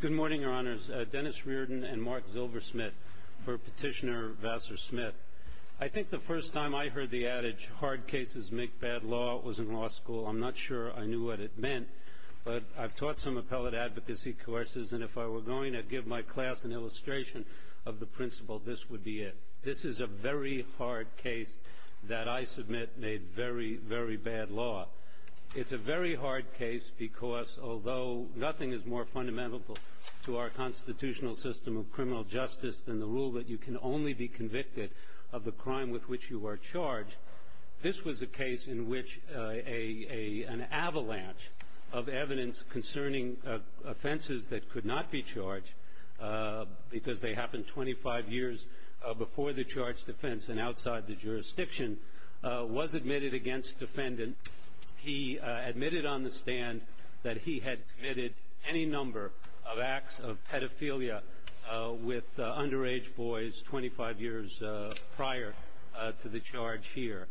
Good morning, Your Honors. Dennis Reardon and Mark Zilversmith for Petitioner Vassar-Smith. I think the first time I heard the adage, hard cases make bad law, was in law school. I'm not sure I knew what it meant, but I've taught some appellate advocacy courses, and if I were going to give my class an illustration of the principle, this would be it. This is a very hard case that I submit made very, very bad law. It's a very hard case because although nothing is more fundamental to our constitutional system of criminal justice than the rule that you can only be convicted of the crime with which you are charged, this was a case in which an avalanche of evidence concerning offenses that could not be charged, because they happened 25 years before the charged offense and outside the jurisdiction, was admitted against defendant. He admitted on the stand that he had committed any number of acts of pedophilia with underage boys 25 years prior to the charge here.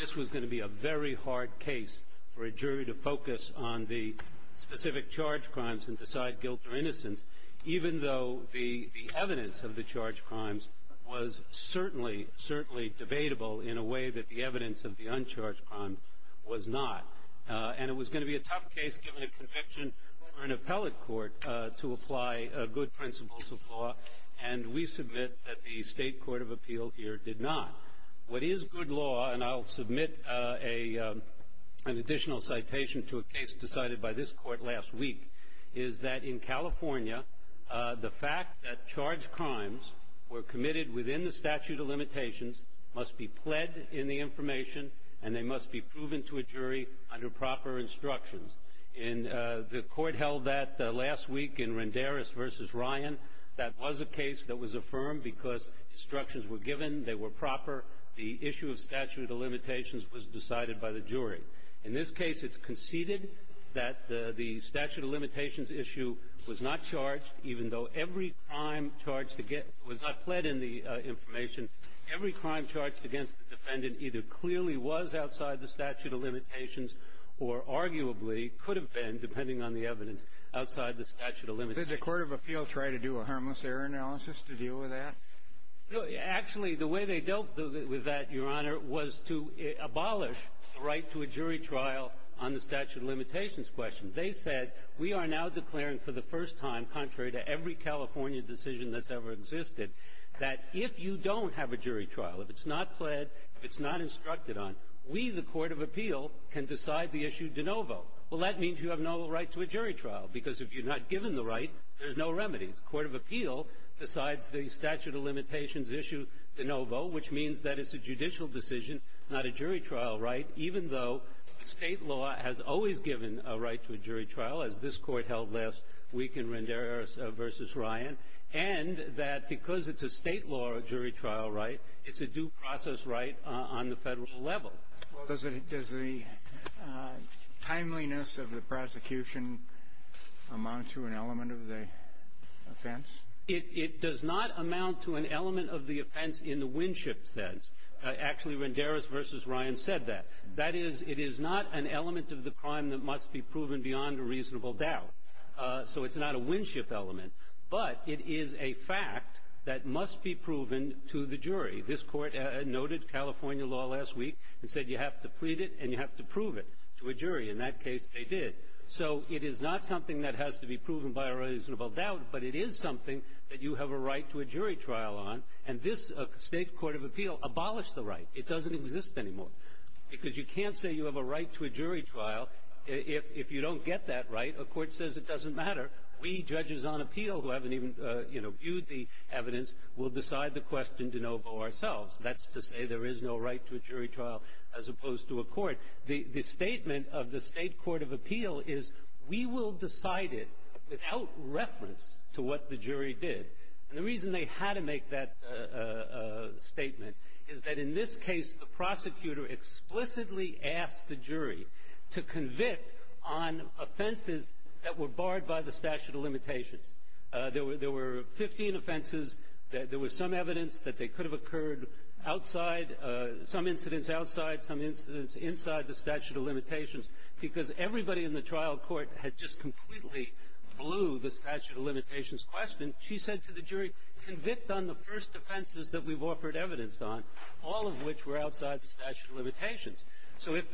This was going to be a very hard case for a jury to focus on the specific charge crimes and decide guilt or innocence, even though the evidence of the charge crimes was certainly debatable in a way that the evidence of the uncharged crime was not. And it was going to be a tough case given a conviction for an appellate court to apply good principles of law, and we submit that the state court of appeal here did not. What is good law, and I'll submit an additional citation to a case decided by this court last week, is that in California the fact that charged crimes were committed within the statute of limitations must be pled in the information, and they must be proven to a jury under proper instructions. And the court held that last week in Rendaris v. Ryan. That was a case that was affirmed because instructions were given, they were proper, the issue of statute of limitations was decided by the jury. In this case, it's conceded that the statute of limitations issue was not charged, even though every crime charged to get was not pled in the information. Every crime charged against the defendant either clearly was outside the statute of limitations or arguably could have been, depending on the evidence, outside the statute of limitations. Did the court of appeal try to do a harmless error analysis to deal with that? Actually, the way they dealt with that, Your Honor, was to abolish the right to a jury trial on the statute of limitations question. They said, we are now declaring for the first time, contrary to every California decision that's ever existed, that if you don't have a jury trial, if it's not pled, if it's not instructed on, we, the court of appeal, can decide the issue de novo. Well, that means you have no right to a jury trial, because if you're not given the right, there's no remedy. The court of appeal decides the statute of limitations issue de novo, which means that it's a judicial decision, not a jury trial right, even though State law has always given a right to a jury trial, as this Court held last week in Rendera v. Ryan, and that because it's a State law jury trial right, it's a due process right on the Federal level. Well, does the timeliness of the prosecution amount to an element of the offense? It does not amount to an element of the offense in the Winship sense. Actually, Rendera v. Ryan said that. That is, it is not an element of the crime that must be proven beyond a reasonable doubt. So it's not a Winship element, but it is a fact that must be proven to the jury. This Court noted California law last week and said you have to plead it and you have to prove it to a jury. In that case, they did. So it is not something that has to be proven by a reasonable doubt, but it is something that you have a right to a jury trial on, and this State court of appeal abolished the right. It doesn't exist anymore, because you can't say you have a right to a jury trial if you don't get that right. A court says it doesn't matter. We, judges on appeal who haven't even, you know, viewed the evidence, will decide the question de novo ourselves. That's to say there is no right to a jury trial as opposed to a court. The statement of the State court of appeal is we will decide it without reference to what the jury did. And the reason they had to make that statement is that in this case, the prosecutor explicitly asked the jury to convict on offenses that were barred by the statute of limitations. There were 15 offenses. There was some evidence that they could have occurred outside, some incidents outside, some incidents inside the statute of limitations, because everybody in the trial court had just completely blew the statute of limitations question. She said to the jury, convict on the first offenses that we've offered evidence on, all of which were outside the statute of limitations. So if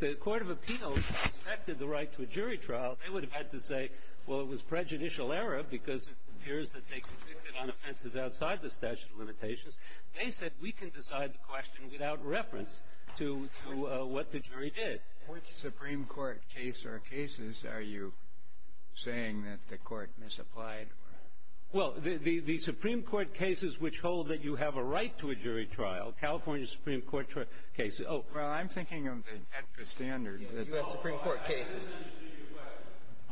the court of appeal suspected the right to a jury trial, they would have had to say, well, it was prejudicial error because it appears that they convicted on offenses outside the statute of limitations. They said we can decide the question without reference to what the jury did. Which Supreme Court case or cases are you saying that the court misapplied? Well, the Supreme Court cases which hold that you have a right to a jury trial, California Supreme Court cases. Oh. Well, I'm thinking of the standard. U.S. Supreme Court cases.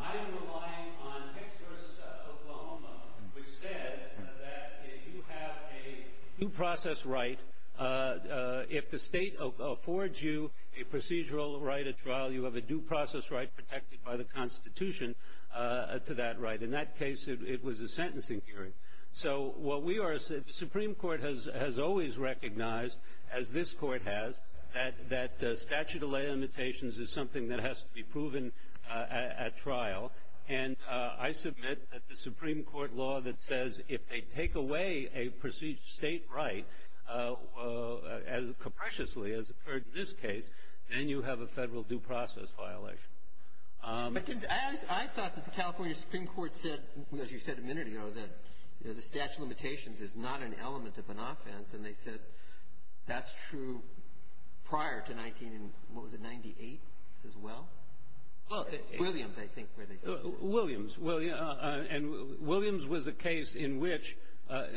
I am relying on Hicks v. Oklahoma, which says that if you have a due process right, if the state affords you a procedural right at trial, you have a due process right protected by the Constitution to that right. In that case, it was a sentencing hearing. So what we are, the Supreme Court has always recognized, as this court has, that statute of limitations is something that has to be proven at trial. And I submit that the Supreme Court law that says if they take away a state right, as capriciously as occurred in this case, then you have a federal due process violation. I thought that the California Supreme Court said, as you said a minute ago, that the statute of limitations is not an element of an offense. And they said that's true prior to 1998 as well. Williams, I think, where they said that. Williams. And Williams was a case in which,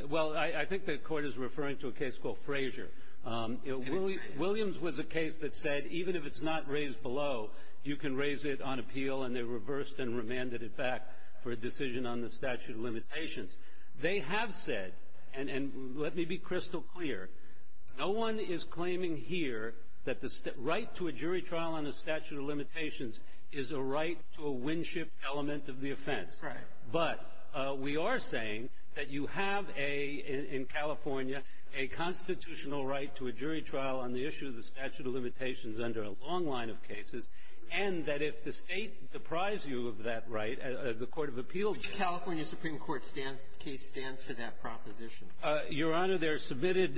well, I think the court is referring to a case called Frazier. Williams was a case that said even if it's not raised below, you can raise it on appeal, and they reversed and remanded it back for a decision on the statute of limitations. They have said, and let me be crystal clear, no one is claiming here that the right to a jury trial on the statute of limitations is a right to a Winship element of the offense. Right. But we are saying that you have a, in California, a constitutional right to a jury trial on the issue of the statute of limitations under a long line of cases, and that if the state deprives you of that right, as the court of appeals do. Which California Supreme Court case stands for that proposition? Your Honor, they're submitted.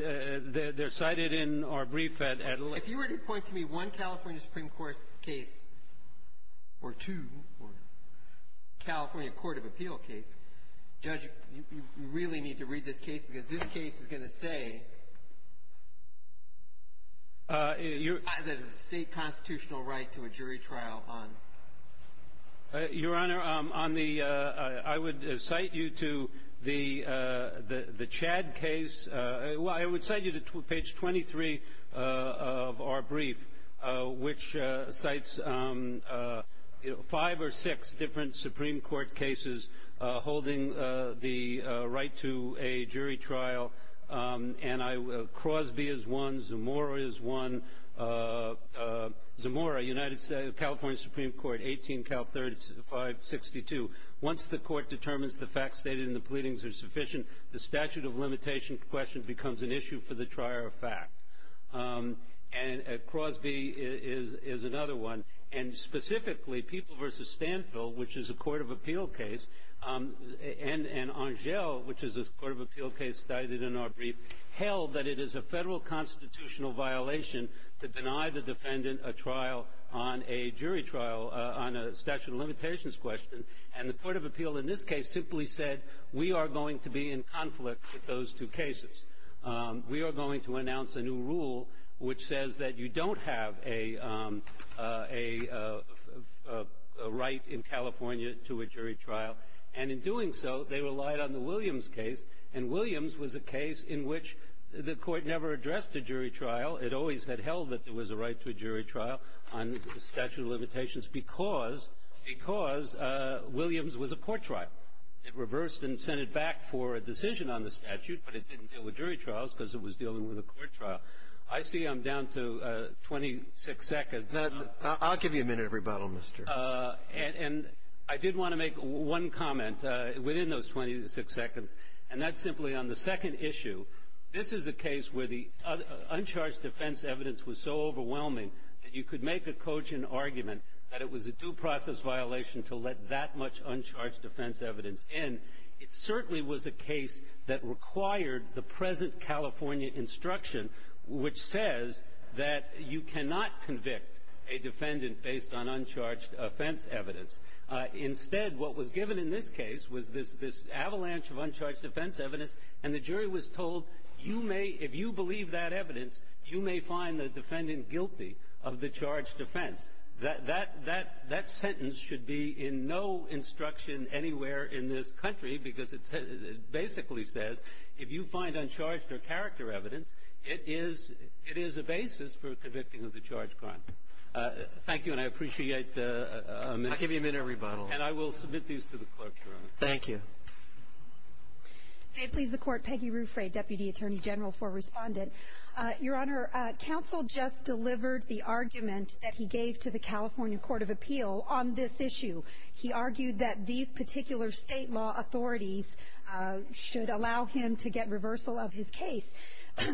They're cited in our brief at length. If you were to point to me one California Supreme Court case or two California court of appeal case, Judge, you really need to read this case because this case is going to say that it's a state constitutional right to a jury trial on the statute of limitations. Your Honor, on the — I would cite you to the Chad case. Well, I would cite you to page 23 of our brief, which cites five or six different Supreme Court cases holding the right to a jury trial. And Crosby is one. Zamora is one. Zamora, United States, California Supreme Court, 18 Cal 3562. Once the court determines the facts stated in the pleadings are sufficient, the statute of limitations question becomes an issue for the trier of fact. And Crosby is another one. And specifically, People v. Stanfield, which is a court of appeal case, and Angell, which is a court of appeal case cited in our brief, held that it is a federal constitutional violation to deny the defendant a trial on a jury trial on a statute of limitations question, and the court of appeal in this case simply said, we are going to be in conflict with those two cases. We are going to announce a new rule which says that you don't have a right in California to a jury trial. And in doing so, they relied on the Williams case. And Williams was a case in which the court never addressed a jury trial. It always had held that there was a right to a jury trial on statute of limitations because Williams was a court trial. It reversed and sent it back for a decision on the statute, but it didn't deal with jury trials because it was dealing with a court trial. I see I'm down to 26 seconds. Now, I'll give you a minute of rebuttal, Mr. And I did want to make one comment within those 26 seconds, and that's simply on the second issue. This is a case where the uncharged defense evidence was so overwhelming that you could make a cogent argument that it was a due process violation to let that much uncharged defense evidence in. It certainly was a case that required the present California instruction, which says that you cannot convict a defendant based on uncharged offense evidence. Instead, what was given in this case was this avalanche of uncharged defense evidence, and the jury was told you may, if you believe that evidence, you may find the defendant guilty of the charged offense. That sentence should be in no instruction anywhere in this country because it basically says if you find uncharged or character evidence, it is a basis for convicting of the charged crime. Thank you, and I appreciate the amendment. I'll give you a minute of rebuttal. And I will submit these to the clerk, Your Honor. Thank you. May it please the Court. Peggy Ruffray, Deputy Attorney General for Respondent. Your Honor, counsel just delivered the argument that he gave to the California Court of Appeal on this issue. He argued that these particular state law authorities should allow him to get reversal of his case.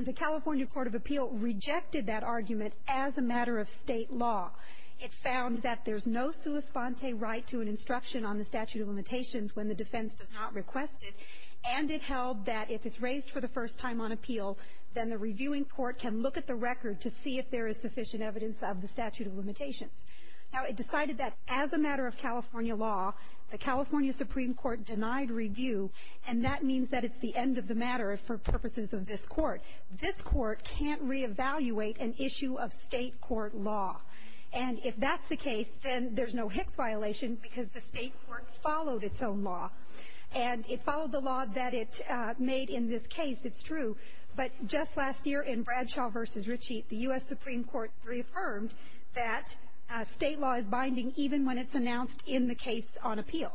The California Court of Appeal rejected that argument as a matter of state law. It found that there's no sua sponte right to an instruction on the statute of limitations when the defense does not request it. And it held that if it's raised for the first time on appeal, then the reviewing court can look at the record to see if there is sufficient evidence of the statute of limitations. Now, it decided that as a matter of California law, the California Supreme Court denied review, and that means that it's the end of the matter for purposes of this Court. This Court can't reevaluate an issue of state court law. And if that's the case, then there's no Hicks violation because the state court followed its own law. And it followed the law that it made in this case. It's true. But just last year in Bradshaw v. Ritchie, the U.S. Supreme Court reaffirmed that state law is binding even when it's announced in the case on appeal.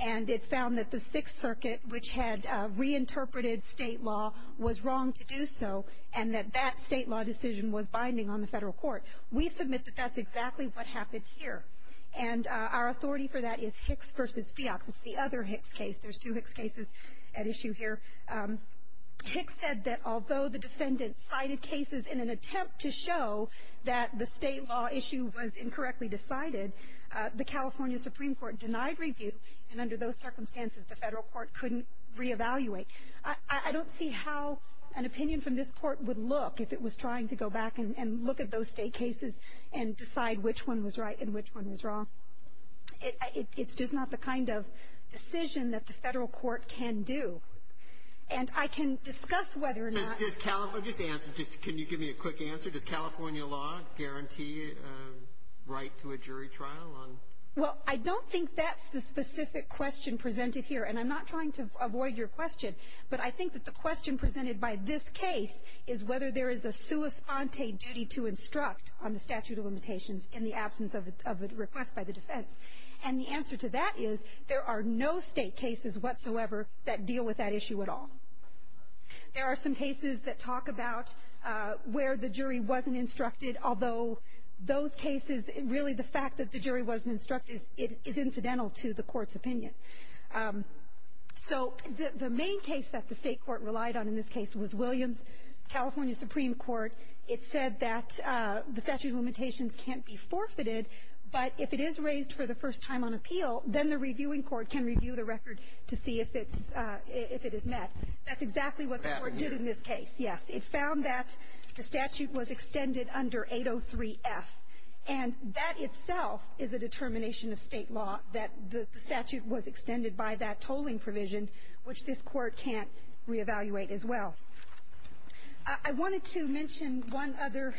And it found that the Sixth Circuit, which had reinterpreted state law, was wrong to do so and that that state law decision was binding on the federal court. We submit that that's exactly what happened here. And our authority for that is Hicks v. Feox. It's the other Hicks case. There's two Hicks cases at issue here. Hicks said that although the defendant cited cases in an attempt to show that the state law issue was incorrectly decided, the California Supreme Court denied review. And under those circumstances, the federal court couldn't reevaluate. I don't see how an opinion from this Court would look if it was trying to go back and look at those state cases and decide which one was right and which one was wrong. It's just not the kind of decision that the federal court can do. And I can discuss whether or not the State Court can do that. Well, I don't think that's the specific question presented here. And I'm not trying to avoid your question, but I think that the question presented by this case is whether there is a sua sponte duty to instruct on the statute of limitations in the absence of a request by the defense. And the answer to that is there are no state cases whatsoever that deal with that issue at all. There are some cases that talk about where the jury wasn't instructed, although those cases, really the fact that the jury wasn't instructed, is incidental to the court's opinion. So the main case that the State Court relied on in this case was Williams, California Supreme Court. It said that the statute of limitations can't be forfeited, but if it is raised for the first time on appeal, then the reviewing court can review the record to see if it is met. That's exactly what the court did in this case. Yes, it found that the statute was extended under 803-F. And that itself is a determination of state law, that the statute was extended by that tolling provision, which this court can't reevaluate as well. I wanted to mention one other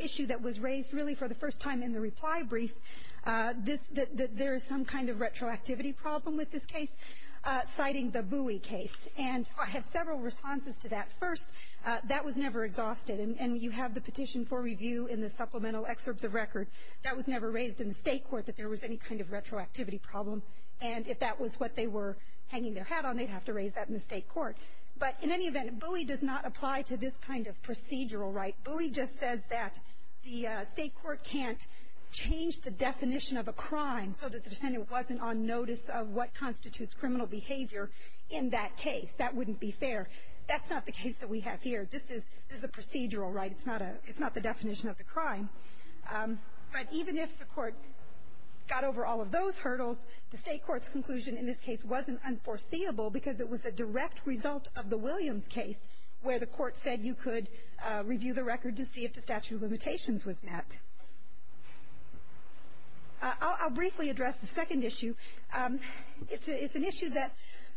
issue that was raised, really, for the first time in the reply brief, that there is some kind of retroactivity problem with this case, citing the Bowie case. And I have several responses to that. First, that was never exhausted. And you have the petition for review in the supplemental excerpts of record. That was never raised in the State Court, that there was any kind of retroactivity problem. And if that was what they were hanging their hat on, they'd have to raise that in the State Court. But in any event, Bowie does not apply to this kind of procedural right. Bowie just says that the State Court can't change the definition of a crime so that the defendant wasn't on notice of what constitutes criminal behavior in that case. That wouldn't be fair. That's not the case that we have here. This is a procedural right. It's not the definition of the crime. But even if the court got over all of those hurdles, the State Court's conclusion in this case wasn't unforeseeable because it was a direct result of the Williams case, where the court said you could review the record to see if the statute of limitations was met. I'll briefly address the second issue. It's an issue that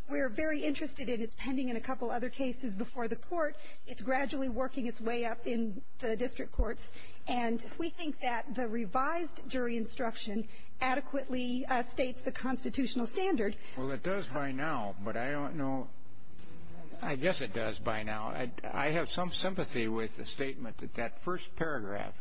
we're very interested in. It's pending in a couple other cases before the court. It's gradually working its way up in the district courts. And we think that the revised jury instruction adequately states the constitutional standard. Well, it does by now, but I don't know. I guess it does by now. I have some sympathy with the statement that that first paragraph,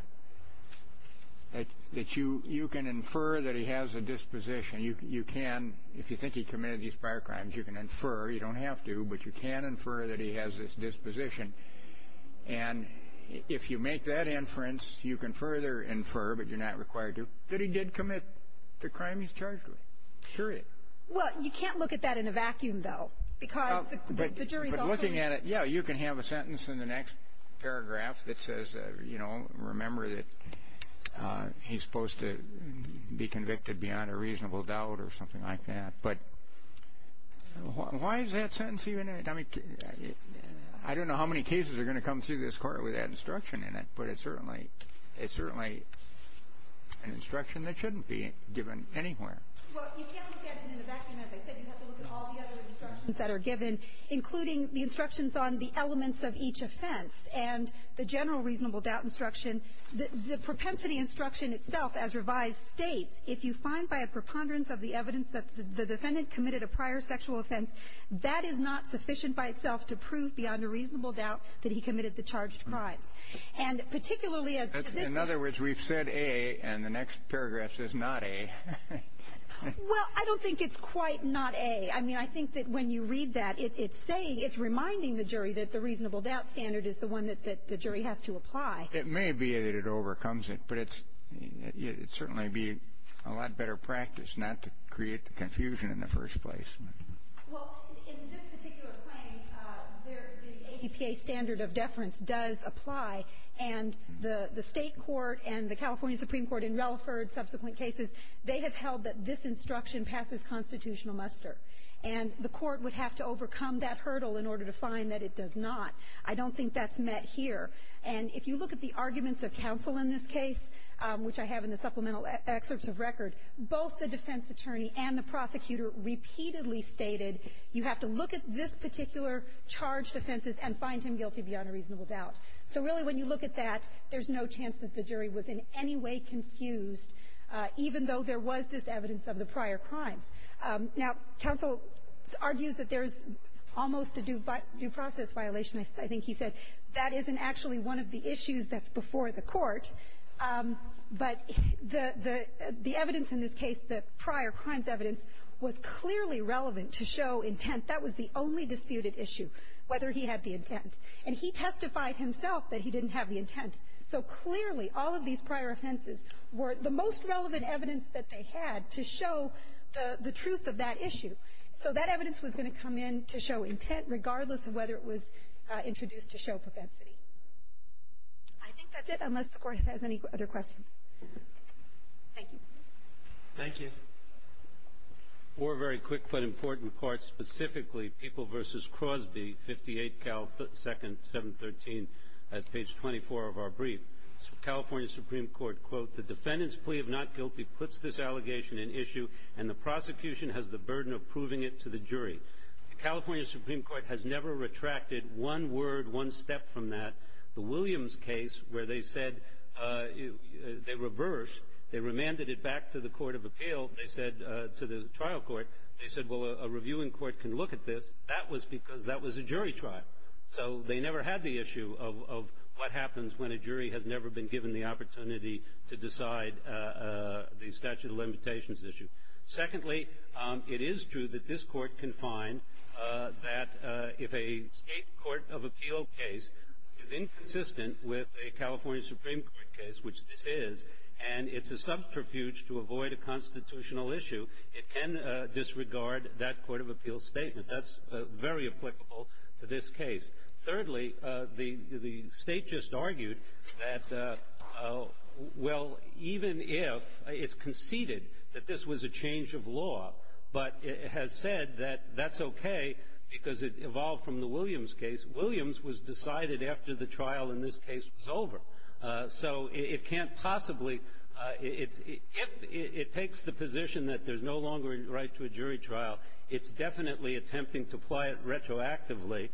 that you can infer that he has a disposition. You can. If you think he committed these prior crimes, you can infer. You don't have to, but you can infer that he has this disposition. And if you make that inference, you can further infer, but you're not required to, that he did commit the crime he's charged with. Period. Well, you can't look at that in a vacuum, though, because the jury's also in it. Yeah, you can have a sentence in the next paragraph that says, you know, remember that he's supposed to be convicted beyond a reasonable doubt or something like that. But why is that sentence even in it? I mean, I don't know how many cases are going to come through this court with that instruction in it, but it's certainly an instruction that shouldn't be given anywhere. Well, you can't look at it in a vacuum. As I said, you have to look at all the other instructions that are given, including the instructions on the elements of each offense and the general reasonable doubt instruction. The propensity instruction itself, as revised, states, if you find by a preponderance of the evidence that the defendant committed a prior sexual offense, that is not sufficient by itself to prove beyond a reasonable doubt that he committed the charged crimes. And particularly as to this case. In other words, we've said A, and the next paragraph says not A. Well, I don't think it's quite not A. I mean, I think that when you read that, it's saying, it's reminding the jury that the reasonable doubt standard is the one that the jury has to apply. It may be that it overcomes it, but it's certainly be a lot better practice not to create the confusion in the first place. Well, in this particular claim, the ADPA standard of deference does apply. And the State court and the California Supreme Court in Relaford, subsequent cases, they have held that this instruction passes constitutional muster. And the court would have to overcome that hurdle in order to find that it does not. I don't think that's met here. And if you look at the arguments of counsel in this case, which I have in the supplemental excerpts of record, both the defense attorney and the prosecutor repeatedly stated, you have to look at this particular charged offenses and find him guilty beyond a reasonable doubt. So really, when you look at that, there's no chance that the jury was in any way confused, even though there was this evidence of the prior crimes. Now, counsel argues that there's almost a due process violation. I think he said that isn't actually one of the issues that's before the court. But the evidence in this case, the prior crimes evidence, was clearly relevant to show intent. That was the only disputed issue, whether he had the intent. And he testified himself that he didn't have the intent. So clearly, all of these prior offenses were the most relevant evidence that they had to show the truth of that issue. So that evidence was going to come in to show intent, regardless of whether it was introduced to show propensity. I think that's it, unless the Court has any other questions. Thank you. Thank you. Four very quick but important parts. Specifically, People v. Crosby, 58 Cal 2nd, 713. That's page 24 of our brief. California Supreme Court, quote, The defendant's plea of not guilty puts this allegation in issue, and the prosecution has the burden of proving it to the jury. The California Supreme Court has never retracted one word, one step from that. The Williams case, where they said they reversed, they remanded it back to the Court of Appeal, to the trial court. They said, well, a reviewing court can look at this. That was because that was a jury trial. So they never had the issue of what happens when a jury has never been given the opportunity to decide the statute of limitations issue. Secondly, it is true that this Court can find that if a State Court of Appeal case is a subterfuge to avoid a constitutional issue, it can disregard that Court of Appeal statement. That's very applicable to this case. Thirdly, the State just argued that, well, even if it's conceded that this was a change of law, but it has said that that's okay because it evolved from the Williams case, Williams was decided after the trial in this case was over. So it can't possibly ‑‑ if it takes the position that there's no longer a right to a jury trial, it's definitely attempting to apply it retroactively.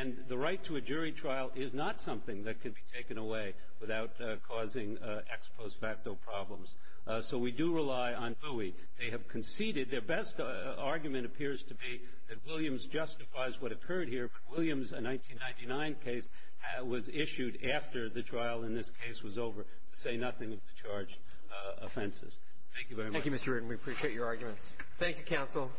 And the right to a jury trial is not something that can be taken away without causing ex post facto problems. So we do rely on GUI. They have conceded. Their best argument appears to be that Williams justifies what occurred here, but Williams' 1999 case was issued after the trial in this case was over to say nothing of the charged offenses. Thank you very much. Thank you, Mr. Rudin. We appreciate your arguments. Thank you, counsel.